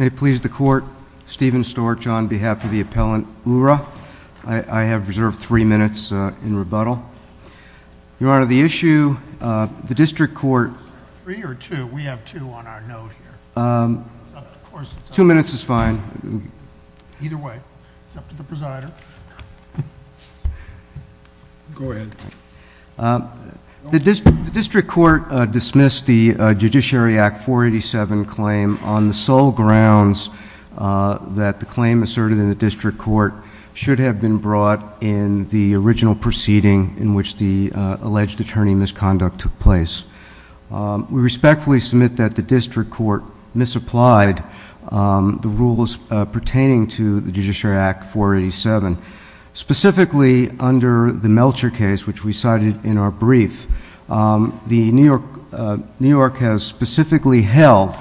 May it please the Court, Stephen Storch on behalf of the Appellant Oorah. I have reserved for three minutes in rebuttal. Your Honor, the issue, the District Court Three or two? We have two on our note here. Of course, it's up to the— Two minutes is fine. Either way, it's up to the presider. Go ahead. The District Court dismissed the Judiciary Act 487 claim on the sole grounds that the claim asserted in the District Court should have been brought in the original proceeding in which the alleged attorney misconduct took place. We respectfully submit that the District Court misapplied the rules pertaining to the Judiciary Act 487, specifically under the Melcher case, which we cited in our brief. New York has specifically held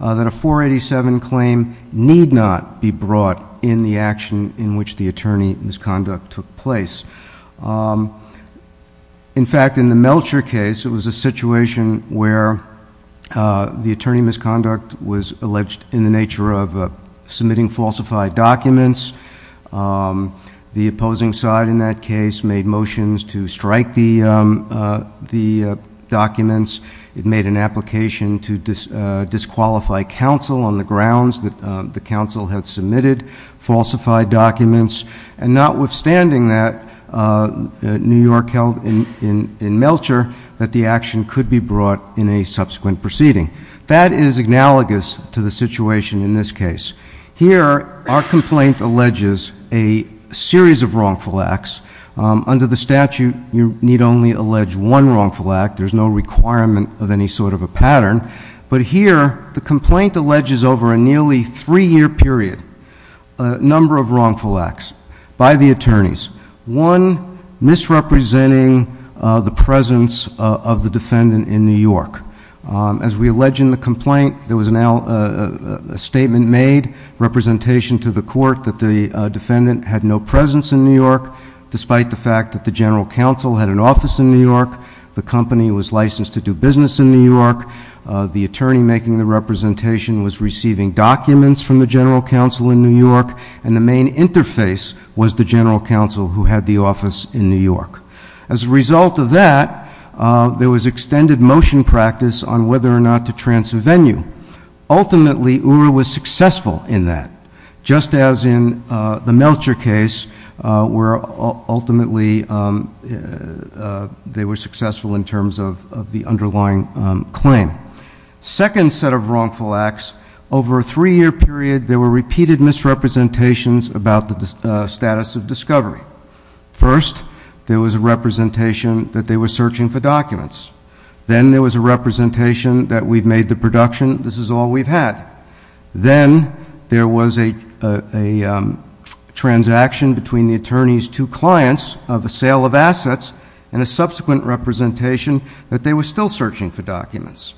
that a 487 claim need not be brought in the action in which the attorney misconduct took place. In fact, in the Melcher case, it was a situation where the attorney misconduct was alleged in the nature of submitting falsified documents. The opposing side in that case made motions to strike the documents. It made an application to disqualify counsel on the grounds that the counsel had submitted falsified documents and notwithstanding that, New York held in Melcher that the action could be brought in a subsequent proceeding. That is analogous to the situation in this case. Here, our complaint alleges a series of wrongful acts. Under the statute, you need only allege one wrongful act. There's no requirement of any sort of a pattern. But here, the complaint alleges over a nearly three-year period a series of wrongful acts by the attorneys. One, misrepresenting the presence of the defendant in New York. As we allege in the complaint, there was a statement made, representation to the court, that the defendant had no presence in New York, despite the fact that the General Counsel had an office in New York, the company was licensed to do business in New York, the attorney making the representation was receiving documents from the General Counsel in New York, and the interface was the General Counsel who had the office in New York. As a result of that, there was extended motion practice on whether or not to transvenue. Ultimately, URA was successful in that, just as in the Melcher case, where ultimately they were successful in terms of the underlying claim. Second set of wrongful acts, over a three-year period, there were repeated misrepresentations about the status of discovery. First, there was a representation that they were searching for documents. Then, there was a representation that we've made the production, this is all we've had. Then, there was a transaction between the attorney's two clients of a sale of assets and a subsequent representation that they were still searching for documents.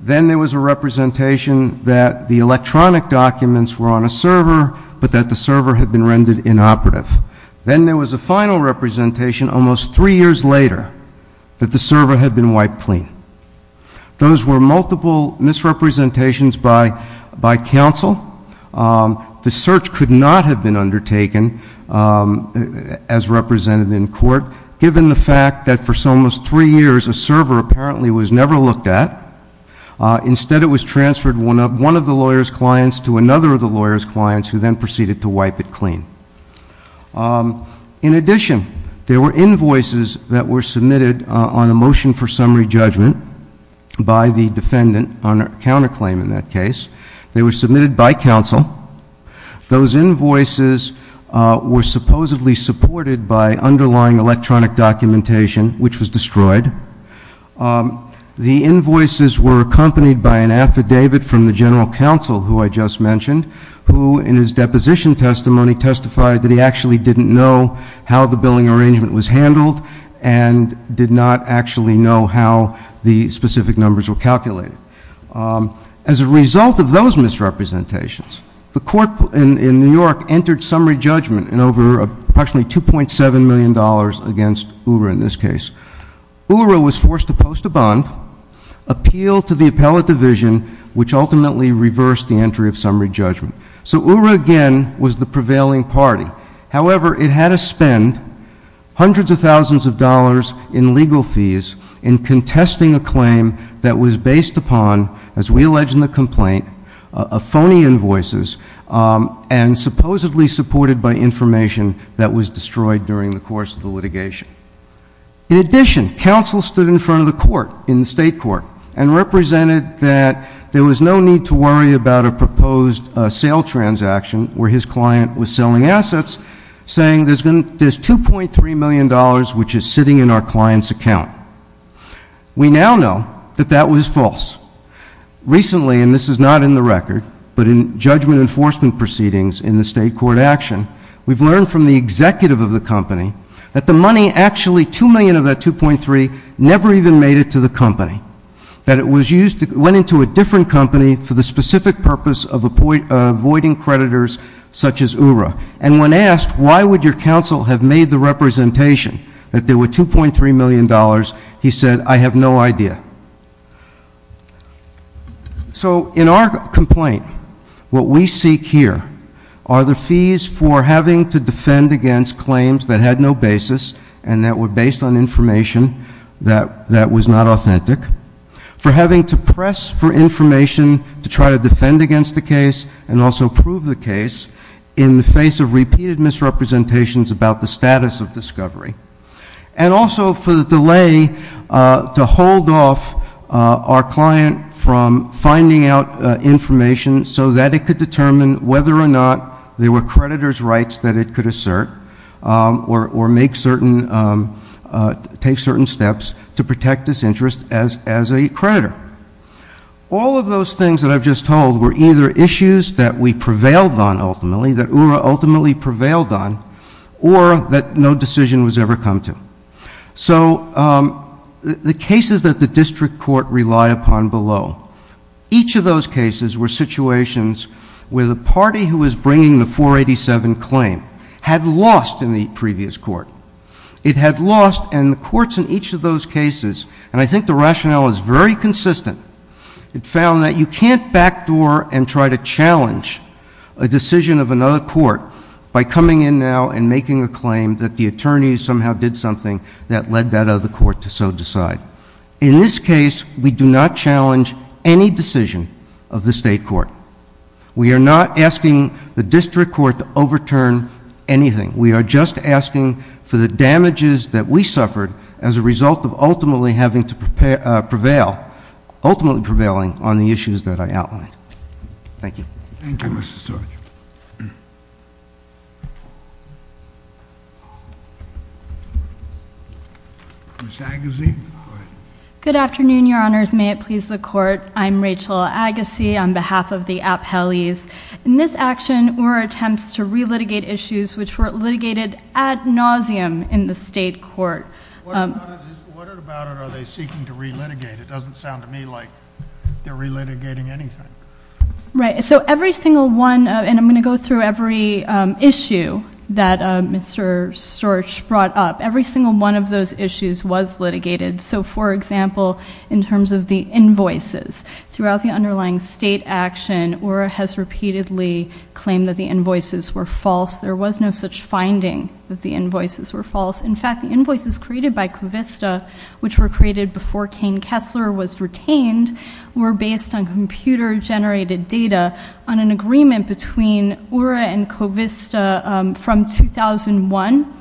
Then, there was a representation that the electronic documents were on a server, but that the server had been rendered inoperative. Then, there was a final representation almost three years later that the server had been wiped clean. Those were multiple misrepresentations by counsel. The search could not have been undertaken as represented in court, given the fact that for almost three years, a server apparently was never looked at. Instead, it was transferred one of the lawyer's clients to another of the lawyer's clients, who then proceeded to wipe it clean. In addition, there were invoices that were submitted on a motion for summary judgment by the defendant on a counterclaim in that case. They were submitted by counsel. Those invoices were supposedly supported by underlying electronic documentation, which was destroyed. The invoices were accompanied by an affidavit from the general counsel, who I just mentioned, who in his deposition testimony testified that he actually didn't know how the billing the specific numbers were calculated. As a result of those misrepresentations, the court in New York entered summary judgment in over approximately $2.7 million against URA in this case. URA was forced to post a bond, appeal to the appellate division, which ultimately reversed the entry of summary judgment. So URA again was the prevailing party. However, it had to spend hundreds of thousands of dollars in legal fees in contesting a claim that was based upon, as we allege in the complaint, of phony invoices and supposedly supported by information that was destroyed during the course of the litigation. In addition, counsel stood in front of the court in the State Court and represented that there was no need to worry about a proposed sale transaction where his client was selling We now know that that was false. Recently, and this is not in the record, but in judgment enforcement proceedings in the State Court action, we've learned from the executive of the company that the money, actually $2 million of that $2.3 million, never even made it to the company, that it went into a different company for the specific purpose of avoiding creditors such as URA. And when asked, why would your counsel have made the representation that there were $2.3 million, he said, I have no idea. So in our complaint, what we seek here are the fees for having to defend against claims that had no basis and that were based on information that was not authentic, for having to press for information to try to defend against the case and also prove the case in the face of repeated misrepresentations about the status of discovery. And also for the delay to hold off our client from finding out information so that it could determine whether or not there were creditor's rights that it could assert or take certain steps to protect its interest as a creditor. All of those things that I've just told were either issues that we prevailed on ultimately, that URA ultimately prevailed on, or that no decision was ever come to. So the cases that the district court relied upon below, each of those cases were situations where the party who was bringing the 487 claim had lost in the previous court. It had lost, and the courts in each of those cases, and I think the rationale is very consistent, it found that you can't backdoor and try to challenge a decision of another court by coming in now and making a claim that the attorney somehow did something that led that other court to so decide. In this case, we do not challenge any decision of the state court. We are not asking the district court to overturn anything. We are just asking for the damages that we suffered as a result of ultimately having to prevail, ultimately prevailing on the issues that I outlined. Thank you. Thank you, Mr. Storch. Ms. Agassi, go ahead. Good afternoon, your honors. May it please the court. I'm Rachel Agassi on behalf of the Appellees. In this action, ORA attempts to re-litigate issues which were litigated ad nauseum in the state court. What about it are they seeking to re-litigate? It doesn't sound to me like they're re-litigating anything. Right, so every single one, and I'm going to go through every issue that Mr. Storch brought up. Every single one of those issues was litigated. So for example, in terms of the invoices. Throughout the underlying state action, ORA has repeatedly claimed that the invoices were false. There was no such finding that the invoices were false. In fact, the invoices created by Covista, which were created before Cain Kessler was retained, were based on computer generated data on an agreement between ORA and Covista from 2001.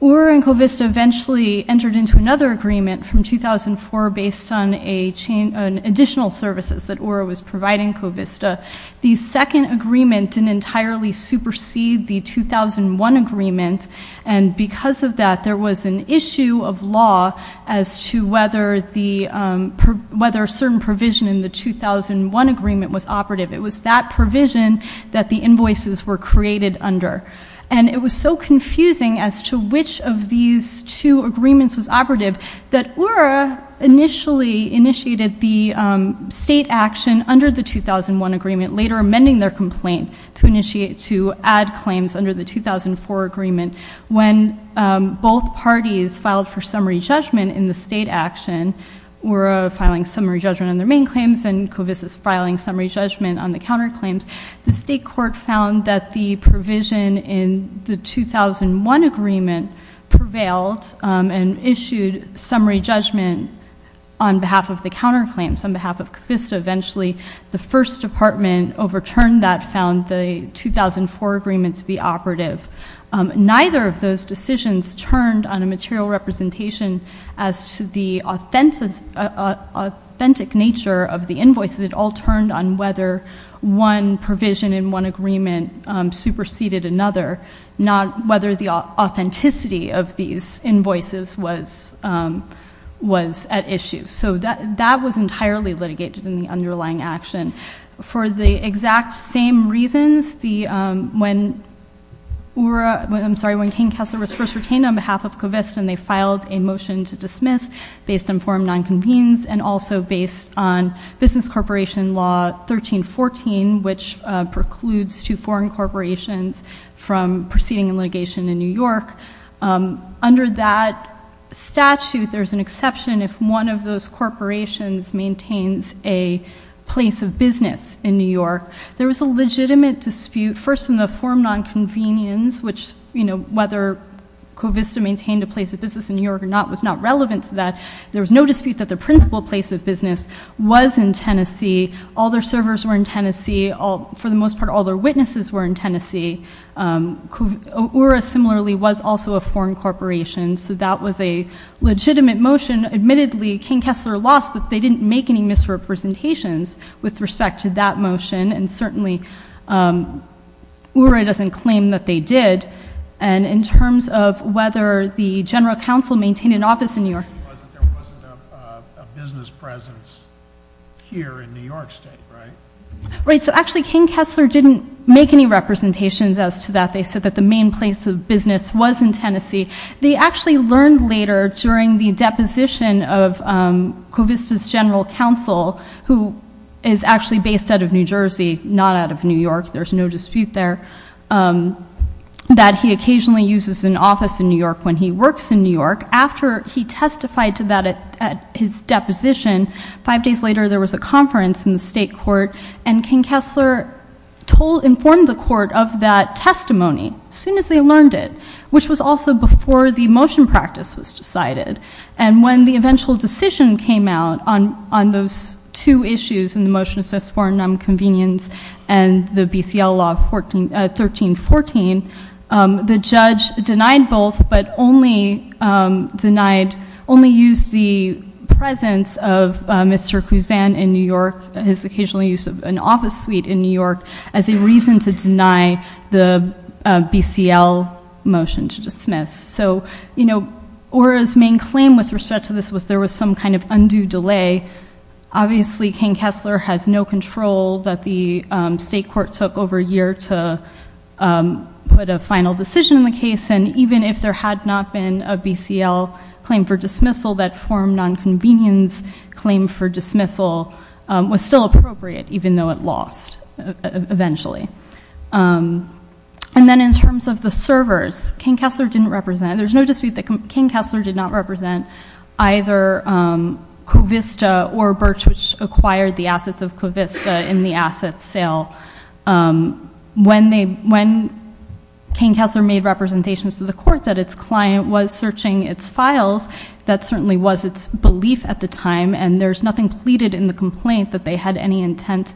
ORA and Covista eventually entered into another agreement from 2004 based on an additional services that ORA was providing Covista. The second agreement didn't entirely supersede the 2001 agreement. And because of that, there was an issue of law as to whether a certain provision in the 2001 agreement was operative. It was that provision that the invoices were created under. And it was so confusing as to which of these two agreements was operative, that ORA initially initiated the state action under the 2001 agreement, later amending their complaint to add claims under the 2004 agreement. When both parties filed for summary judgment in the state action, ORA filing summary judgment on their main claims and Covista filing summary judgment on the counter claims. The state court found that the provision in the 2001 agreement prevailed and issued summary judgment on behalf of the counter claims, on behalf of Covista. Eventually, the first department overturned that, found the 2004 agreement to be operative. Neither of those decisions turned on a material representation as to the authentic nature of the invoices, it all turned on whether one provision in one agreement superseded another. Not whether the authenticity of these invoices was at issue. So that was entirely litigated in the underlying action. For the exact same reasons, when King Castle was first retained on behalf of Covista and they filed a motion to dismiss based on form non-convenience and also based on business corporation law 1314, which precludes two foreign corporations from proceeding litigation in New York. Under that statute, there's an exception if one of those corporations maintains a place of business in New York. There was a legitimate dispute, first in the form non-convenience, which whether Covista maintained a place of business in New York or not was not relevant to that. There was no dispute that the principal place of business was in Tennessee. All their servers were in Tennessee. For the most part, all their witnesses were in Tennessee. URA similarly was also a foreign corporation, so that was a legitimate motion. Admittedly, King Kessler lost, but they didn't make any misrepresentations with respect to that motion. And certainly, URA doesn't claim that they did. And in terms of whether the general counsel maintained an office in New York. There wasn't a business presence here in New York state, right? Right, so actually King Kessler didn't make any representations as to that. They said that the main place of business was in Tennessee. They actually learned later during the deposition of Covista's general counsel, who is actually based out of New Jersey, not out of New York, there's no dispute there. That he occasionally uses an office in New York when he works in New York. After he testified to that at his deposition, five days later there was a conference in the state court. And King Kessler informed the court of that testimony as soon as they learned it. Which was also before the motion practice was decided. And when the eventual decision came out on those two issues, in the motion that says foreign non-convenience and the BCL law 1314. The judge denied both, but only used the presence of Mr. Kuzan in New York, his occasional use of an office suite in New York, as a reason to deny the BCL motion to dismiss. So, ORA's main claim with respect to this was there was some kind of undue delay. Obviously, King Kessler has no control that the state court took over a year to put a final decision in the case. And even if there had not been a BCL claim for dismissal, that foreign non-convenience claim for dismissal was still appropriate, even though it lost eventually. And then in terms of the servers, King Kessler didn't represent, there's no dispute that King Kessler did not represent either Covista or Birch, which acquired the assets of Covista in the asset sale. When King Kessler made representations to the court that its client was searching its files, that certainly was its belief at the time, and there's nothing pleaded in the complaint that they had any intent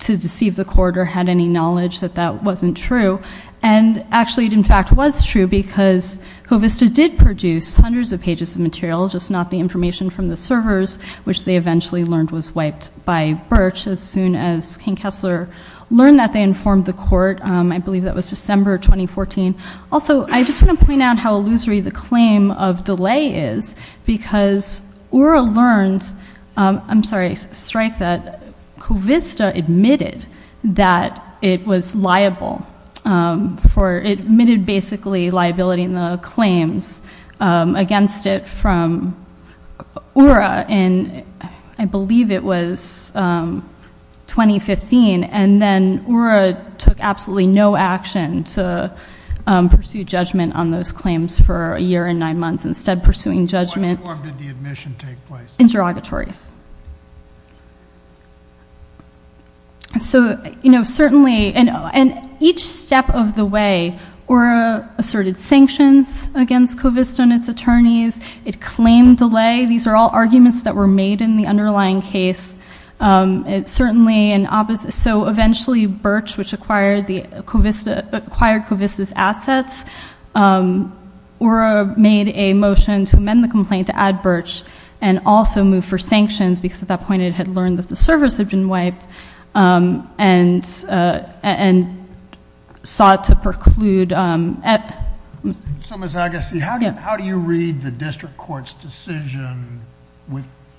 to deceive the court or had any knowledge that that wasn't true. And actually, it in fact was true, because Covista did produce hundreds of pages of material, just not the information from the servers, which they eventually learned was wiped by Birch as soon as King Kessler learned that they informed the court. I believe that was December 2014. Also, I just want to point out how illusory the claim of delay is, because ORA learned, I'm sorry, strike that Covista admitted that it was liable for, it admitted basically liability in the claims against it from ORA in, I believe it was 2015, and then ORA took absolutely no action to pursue judgment on those claims for a year and nine months, instead pursuing judgment- I'm sorry, and then ORA took absolutely no action to pursue judgment on those claims for a year and nine months, instead pursuing judgment on those claims. So, certainly, and each step of the way, ORA asserted sanctions against Covista and its attorneys. So, certainly, and each step of the way, ORA asserted sanctions against Covista and its attorneys. It claimed delay. These are all arguments that were made in the underlying case. It certainly, and so eventually, Birch, which acquired Covista's assets, ORA made a motion to amend the complaint to add Birch and also move for sanctions, because at that point it had learned that the service had been wiped and sought to preclude- So, Ms. Agassi, how do you read the district court's decision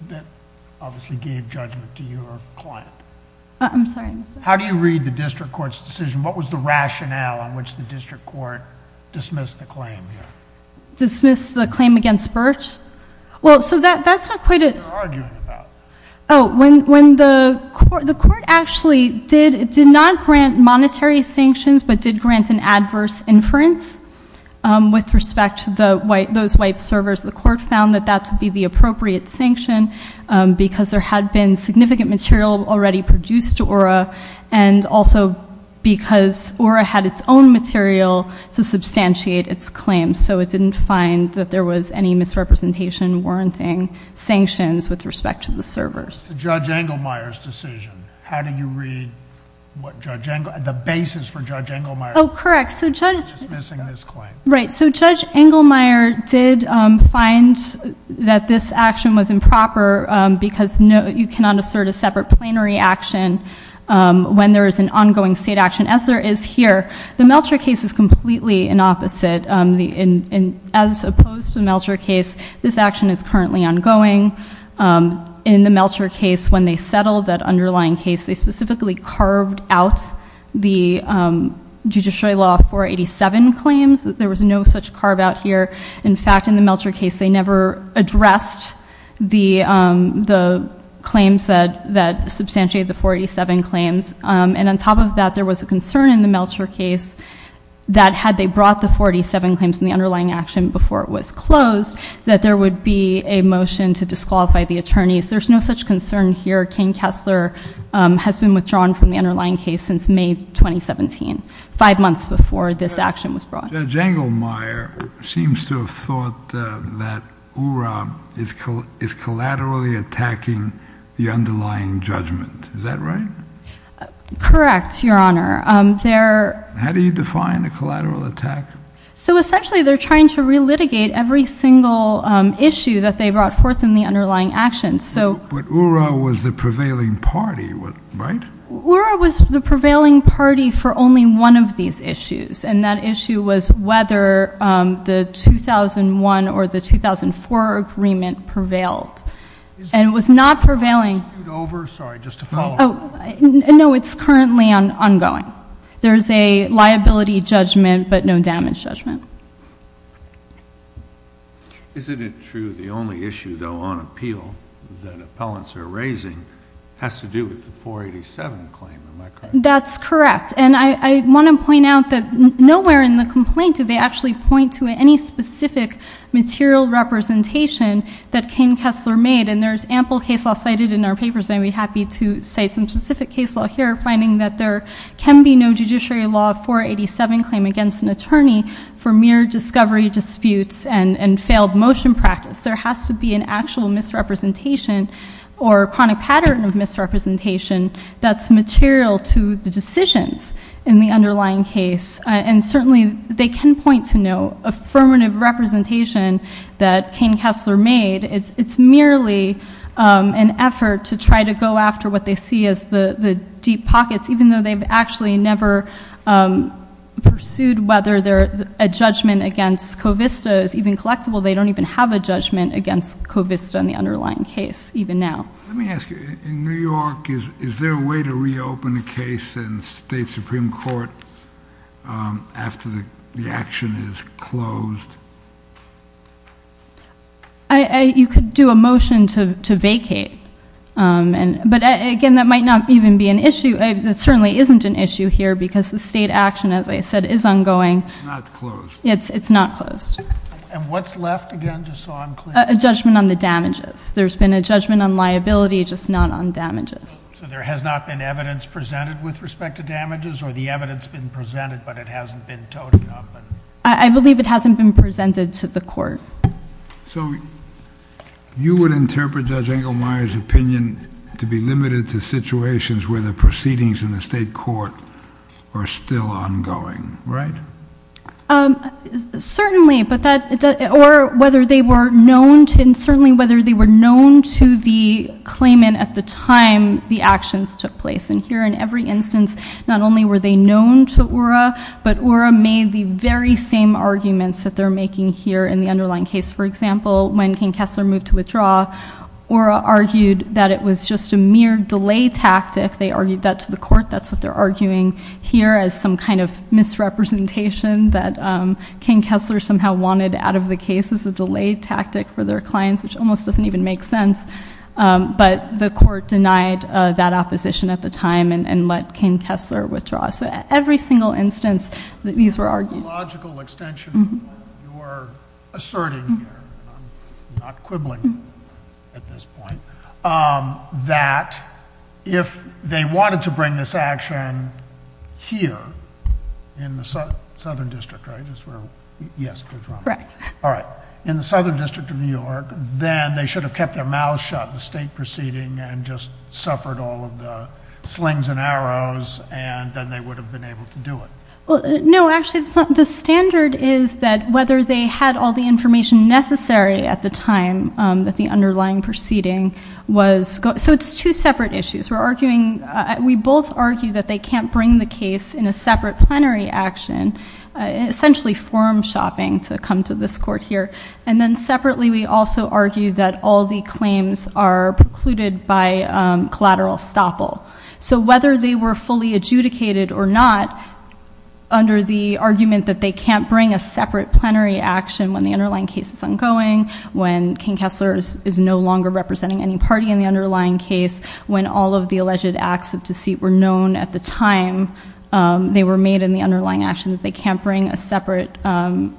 that obviously gave judgment to your client? I'm sorry, Mr. How do you read the district court's decision? What was the rationale on which the district court dismissed the claim here? Dismissed the claim against Birch? Well, so that's not quite a- What are you arguing about? Oh, when the court actually did not grant monetary sanctions, but did grant an adverse inference with respect to those wiped servers, the court found that that to be the appropriate sanction because there had been significant material already produced to ORA and also because ORA had its own material to substantiate its claim, so it didn't find that there was any misrepresentation warranting sanctions with respect to the servers. Judge Engelmeyer's decision. How do you read what Judge Engelmeyer- the basis for Judge Engelmeyer- Oh, correct. So Judge- Dismissing this claim. Right. So Judge Engelmeyer did find that this action was improper because you cannot assert a separate plenary action when there is an ongoing state action, as there is here. The Melcher case is completely an opposite. As opposed to the Melcher case, this action is currently ongoing. In the Melcher case, when they settled that underlying case, they specifically carved out the judiciary law 487 claims. There was no such carve out here. In fact, in the Melcher case, they never addressed the claims that substantiated the 487 claims. And on top of that, there was a concern in the Melcher case that had they brought the 487 claims in the underlying action before it was closed, that there would be a motion to disqualify the attorneys. There's no such concern here. Kane Kessler has been withdrawn from the underlying case since May 2017, five months before this action was brought. Judge Engelmeyer seems to have thought that URA is collaterally attacking the underlying judgment. Is that right? Correct, Your Honor. How do you define a collateral attack? So essentially, they're trying to relitigate every single issue that they brought forth in the underlying action. But URA was the prevailing party, right? URA was the prevailing party for only one of these issues. And that issue was whether the 2001 or the 2004 agreement prevailed. And it was not prevailing. Is this dispute over? Sorry, just to follow up. No, it's currently ongoing. There's a liability judgment but no damage judgment. Isn't it true the only issue, though, on appeal that appellants are raising has to do with the 487 claim? Am I correct? That's correct. And I want to point out that nowhere in the complaint do they actually point to any specific material representation that Cain Kessler made. And there's ample case law cited in our papers, and I'd be happy to cite some specific case law here, finding that there can be no judiciary law 487 claim against an attorney for mere discovery disputes and failed motion practice. There has to be an actual misrepresentation or chronic pattern of misrepresentation that's material to the decisions in the underlying case. And certainly they can point to no affirmative representation that Cain Kessler made. It's merely an effort to try to go after what they see as the deep pockets, even though they've actually never pursued whether a judgment against Covista is even collectible. They don't even have a judgment against Covista in the underlying case, even now. Let me ask you, in New York, is there a way to reopen a case in state supreme court after the action is closed? You could do a motion to vacate. But, again, that might not even be an issue. It certainly isn't an issue here because the state action, as I said, is ongoing. It's not closed. It's not closed. And what's left, again, just so I'm clear? A judgment on the damages. There's been a judgment on liability, just not on damages. So there has not been evidence presented with respect to damages? Or the evidence has been presented, but it hasn't been toted up? I believe it hasn't been presented to the court. So you would interpret Judge Engelmeyer's opinion to be limited to situations where the proceedings in the state court are still ongoing, right? Certainly. Or whether they were known to the claimant at the time the actions took place. And here, in every instance, not only were they known to Ura, but Ura made the very same arguments that they're making here in the underlying case. For example, when King Kessler moved to withdraw, Ura argued that it was just a mere delay tactic. They argued that to the court. That's what they're arguing here as some kind of misrepresentation that King Kessler somehow wanted out of the case as a delay tactic for their clients, which almost doesn't even make sense. But the court denied that opposition at the time and let King Kessler withdraw. So every single instance that these were argued. Logical extension of what you're asserting here, and I'm not quibbling at this point, that if they wanted to bring this action here in the Southern District, right? Yes, correct. All right. In the Southern District of New York, then they should have kept their mouths shut in the state proceeding and just suffered all of the slings and arrows, and then they would have been able to do it. No, actually, the standard is that whether they had all the information necessary at the time that the underlying proceeding was. So it's two separate issues. We're arguing, we both argue that they can't bring the case in a separate plenary action, essentially forum shopping to come to this court here. And then separately, we also argue that all the claims are precluded by collateral estoppel. So whether they were fully adjudicated or not, under the argument that they can't bring a separate plenary action when the underlying case is ongoing, when King Kessler is no longer representing any party in the underlying case, when all of the alleged acts of deceit were known at the time they were made in the underlying action, that they can't bring a separate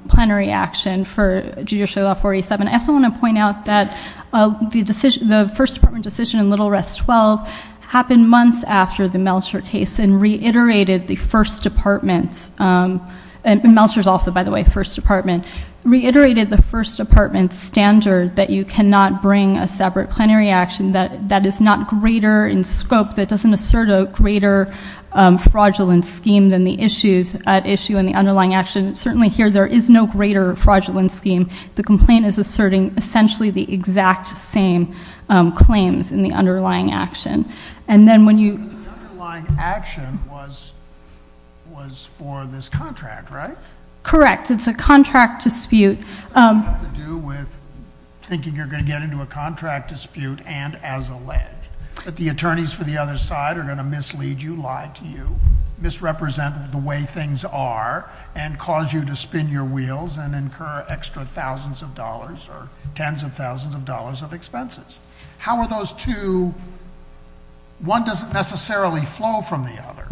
plenary action for Judicial Law 487. I also want to point out that the first department decision in Little Rest 12 happened months after the Melcher case and reiterated the first department's, and Melcher's also, by the way, first department, reiterated the first department's standard that you cannot bring a separate plenary action that is not greater in scope, that doesn't assert a greater fraudulent scheme than the issues at issue in the underlying action. Certainly here, there is no greater fraudulent scheme. The complaint is asserting essentially the exact same claims in the underlying action. And then when you- The underlying action was for this contract, right? Correct. It's a contract dispute. It has to do with thinking you're going to get into a contract dispute and as alleged, that the attorneys for the other side are going to mislead you, lie to you, misrepresent the way things are and cause you to spin your wheels and incur extra thousands of dollars or tens of thousands of dollars of expenses. How are those two-one doesn't necessarily flow from the other.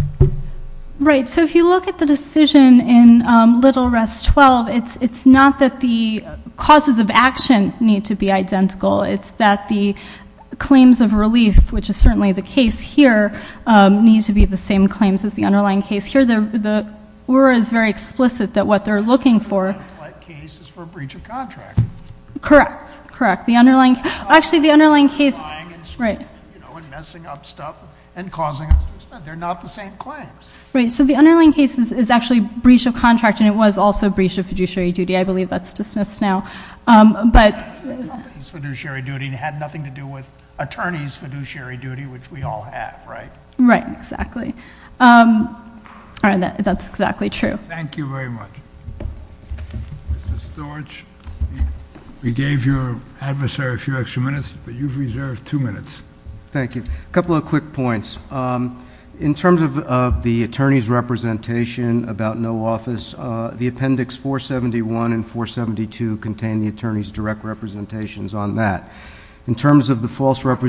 Right. So if you look at the decision in little rest 12, it's not that the causes of action need to be identical. It's that the claims of relief, which is certainly the case here, need to be the same claims as the underlying case. Here, the word is very explicit that what they're looking for- The underlying case is for a breach of contract. Correct. Correct. The underlying- Actually, the underlying case- They're not the same claims. Right. So the underlying case is actually a breach of contract and it was also a breach of fiduciary duty. I believe that's dismissed now. But- The company's fiduciary duty had nothing to do with attorney's fiduciary duty, which we all have, right? Right. Exactly. That's exactly true. Thank you very much. Mr. Storch, we gave your adversary a few extra minutes, but you've reserved two minutes. Thank you. A couple of quick points. In terms of the attorney's representation about no office, the Appendix 471 and 472 contain the attorney's direct representations on that. In terms of the false- What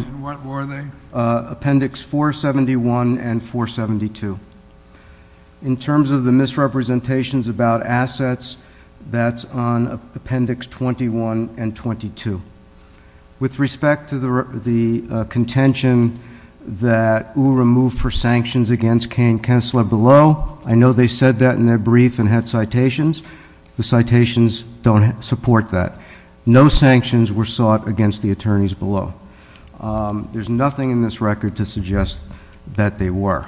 were they? Appendix 471 and 472. In terms of the misrepresentations about assets, that's on Appendix 21 and 22. With respect to the contention that URA moved for sanctions against Kay and Kessler below, I know they said that in their brief and had citations. The citations don't support that. No sanctions were sought against the attorneys below. There's nothing in this record to suggest that they were.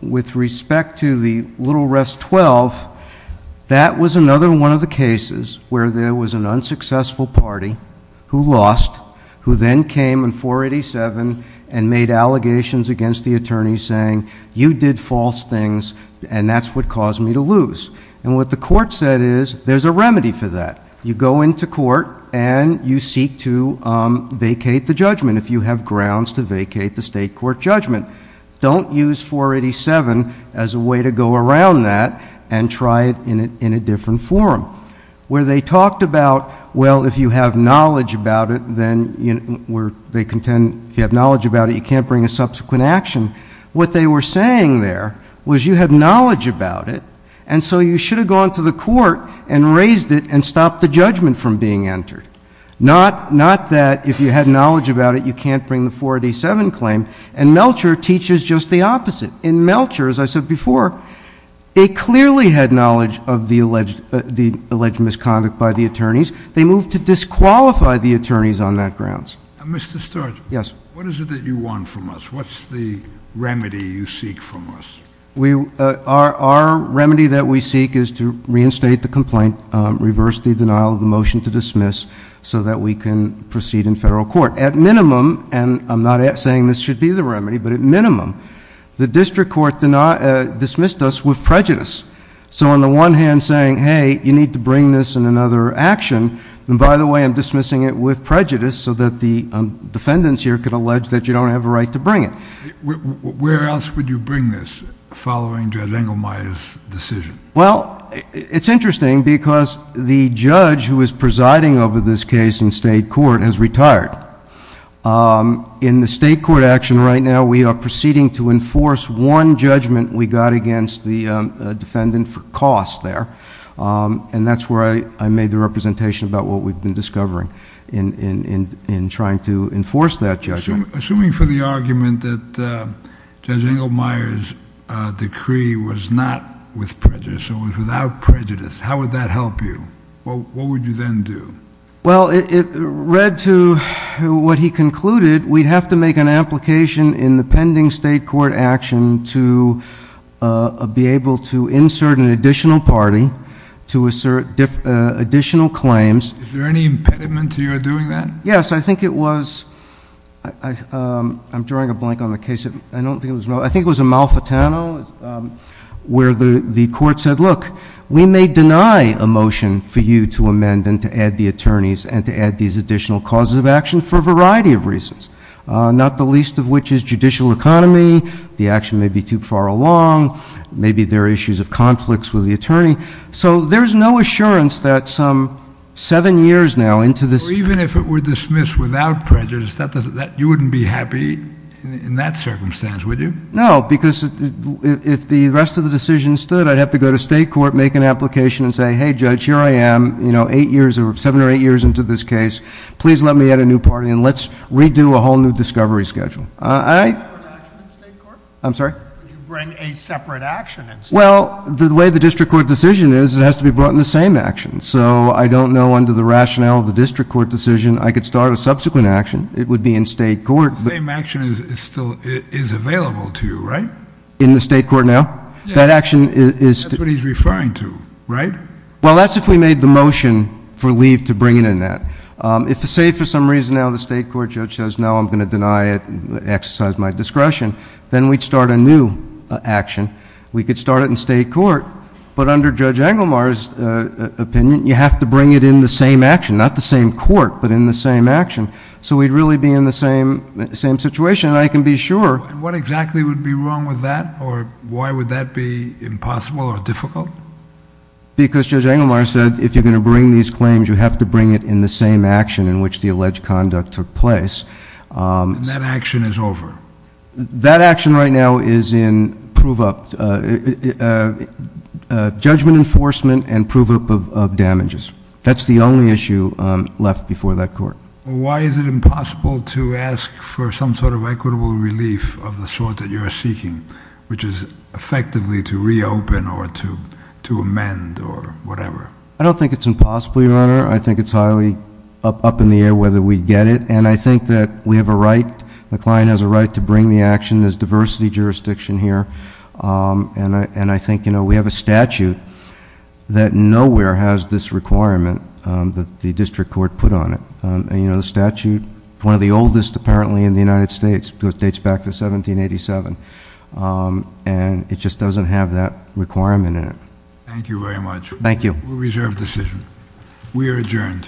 With respect to the little rest 12, that was another one of the cases where there was an unsuccessful party who lost, who then came in 487 and made allegations against the attorneys saying, you did false things and that's what caused me to lose. And what the court said is, there's a remedy for that. You go into court and you seek to vacate the judgment if you have grounds to vacate the state court judgment. Don't use 487 as a way to go around that and try it in a different forum. Where they talked about, well, if you have knowledge about it, then they contend if you have knowledge about it, you can't bring a subsequent action. What they were saying there was you have knowledge about it, and so you should have gone to the court and raised it and stopped the judgment from being entered. Not that if you had knowledge about it, you can't bring the 487 claim. And Melcher teaches just the opposite. In Melcher, as I said before, they clearly had knowledge of the alleged misconduct by the attorneys. They moved to disqualify the attorneys on that grounds. Mr. Sturge, what is it that you want from us? What's the remedy you seek from us? Our remedy that we seek is to reinstate the complaint, reverse the denial of the motion to dismiss so that we can proceed in federal court. At minimum, and I'm not saying this should be the remedy, but at minimum, the district court dismissed us with prejudice. So on the one hand, saying, hey, you need to bring this in another action. And by the way, I'm dismissing it with prejudice so that the defendants here could allege that you don't have a right to bring it. Where else would you bring this following Judge Engelmeyer's decision? Well, it's interesting because the judge who is presiding over this case in state court has retired. In the state court action right now, we are proceeding to enforce one judgment we got against the defendant for cost there. And that's where I made the representation about what we've been discovering in trying to enforce that judgment. Assuming for the argument that Judge Engelmeyer's decree was not with prejudice, it was without prejudice, how would that help you? What would you then do? Well, it read to what he concluded. We'd have to make an application in the pending state court action to be able to insert an additional party to assert additional claims. Is there any impediment to your doing that? Yes, I think it was. I'm drawing a blank on the case. I don't think it was. I think it was a Malfatano where the court said, look, we may deny a motion for you to amend and to add the attorneys and to add these additional causes of action for a variety of reasons. Not the least of which is judicial economy. The action may be too far along. Maybe there are issues of conflicts with the attorney. So there's no assurance that seven years now into this. Even if it were dismissed without prejudice, you wouldn't be happy in that circumstance, would you? No, because if the rest of the decision stood, I'd have to go to state court, make an application and say, hey, Judge, here I am, seven or eight years into this case. Please let me add a new party and let's redo a whole new discovery schedule. Would you bring a separate action in state court? I'm sorry? Would you bring a separate action in state court? Well, the way the district court decision is, it has to be brought in the same action. So I don't know under the rationale of the district court decision. I could start a subsequent action. It would be in state court. The same action is available to you, right? In the state court now? Yeah. That's what he's referring to, right? Well, that's if we made the motion for leave to bring it in that. If, say, for some reason now the state court judge says, no, I'm going to deny it, exercise my discretion, then we'd start a new action. We could start it in state court. But under Judge Engelmar's opinion, you have to bring it in the same action, not the same court, but in the same action. So we'd really be in the same situation. I can be sure. And what exactly would be wrong with that? Or why would that be impossible or difficult? Because Judge Engelmar said if you're going to bring these claims, you have to bring it in the same action in which the alleged conduct took place. And that action is over? That action right now is in proof of judgment enforcement and proof of damages. That's the only issue left before that court. Why is it impossible to ask for some sort of equitable relief of the sort that you're seeking, which is effectively to reopen or to amend or whatever? I don't think it's impossible, Your Honor. I think it's highly up in the air whether we get it. And I think that we have a right. McLean has a right to bring the action. There's diversity jurisdiction here. And I think we have a statute that nowhere has this requirement that the district court put on it. And the statute, one of the oldest apparently in the United States, because it dates back to 1787. And it just doesn't have that requirement in it. Thank you very much. Thank you. Reserved decision. We are adjourned. Court is adjourned.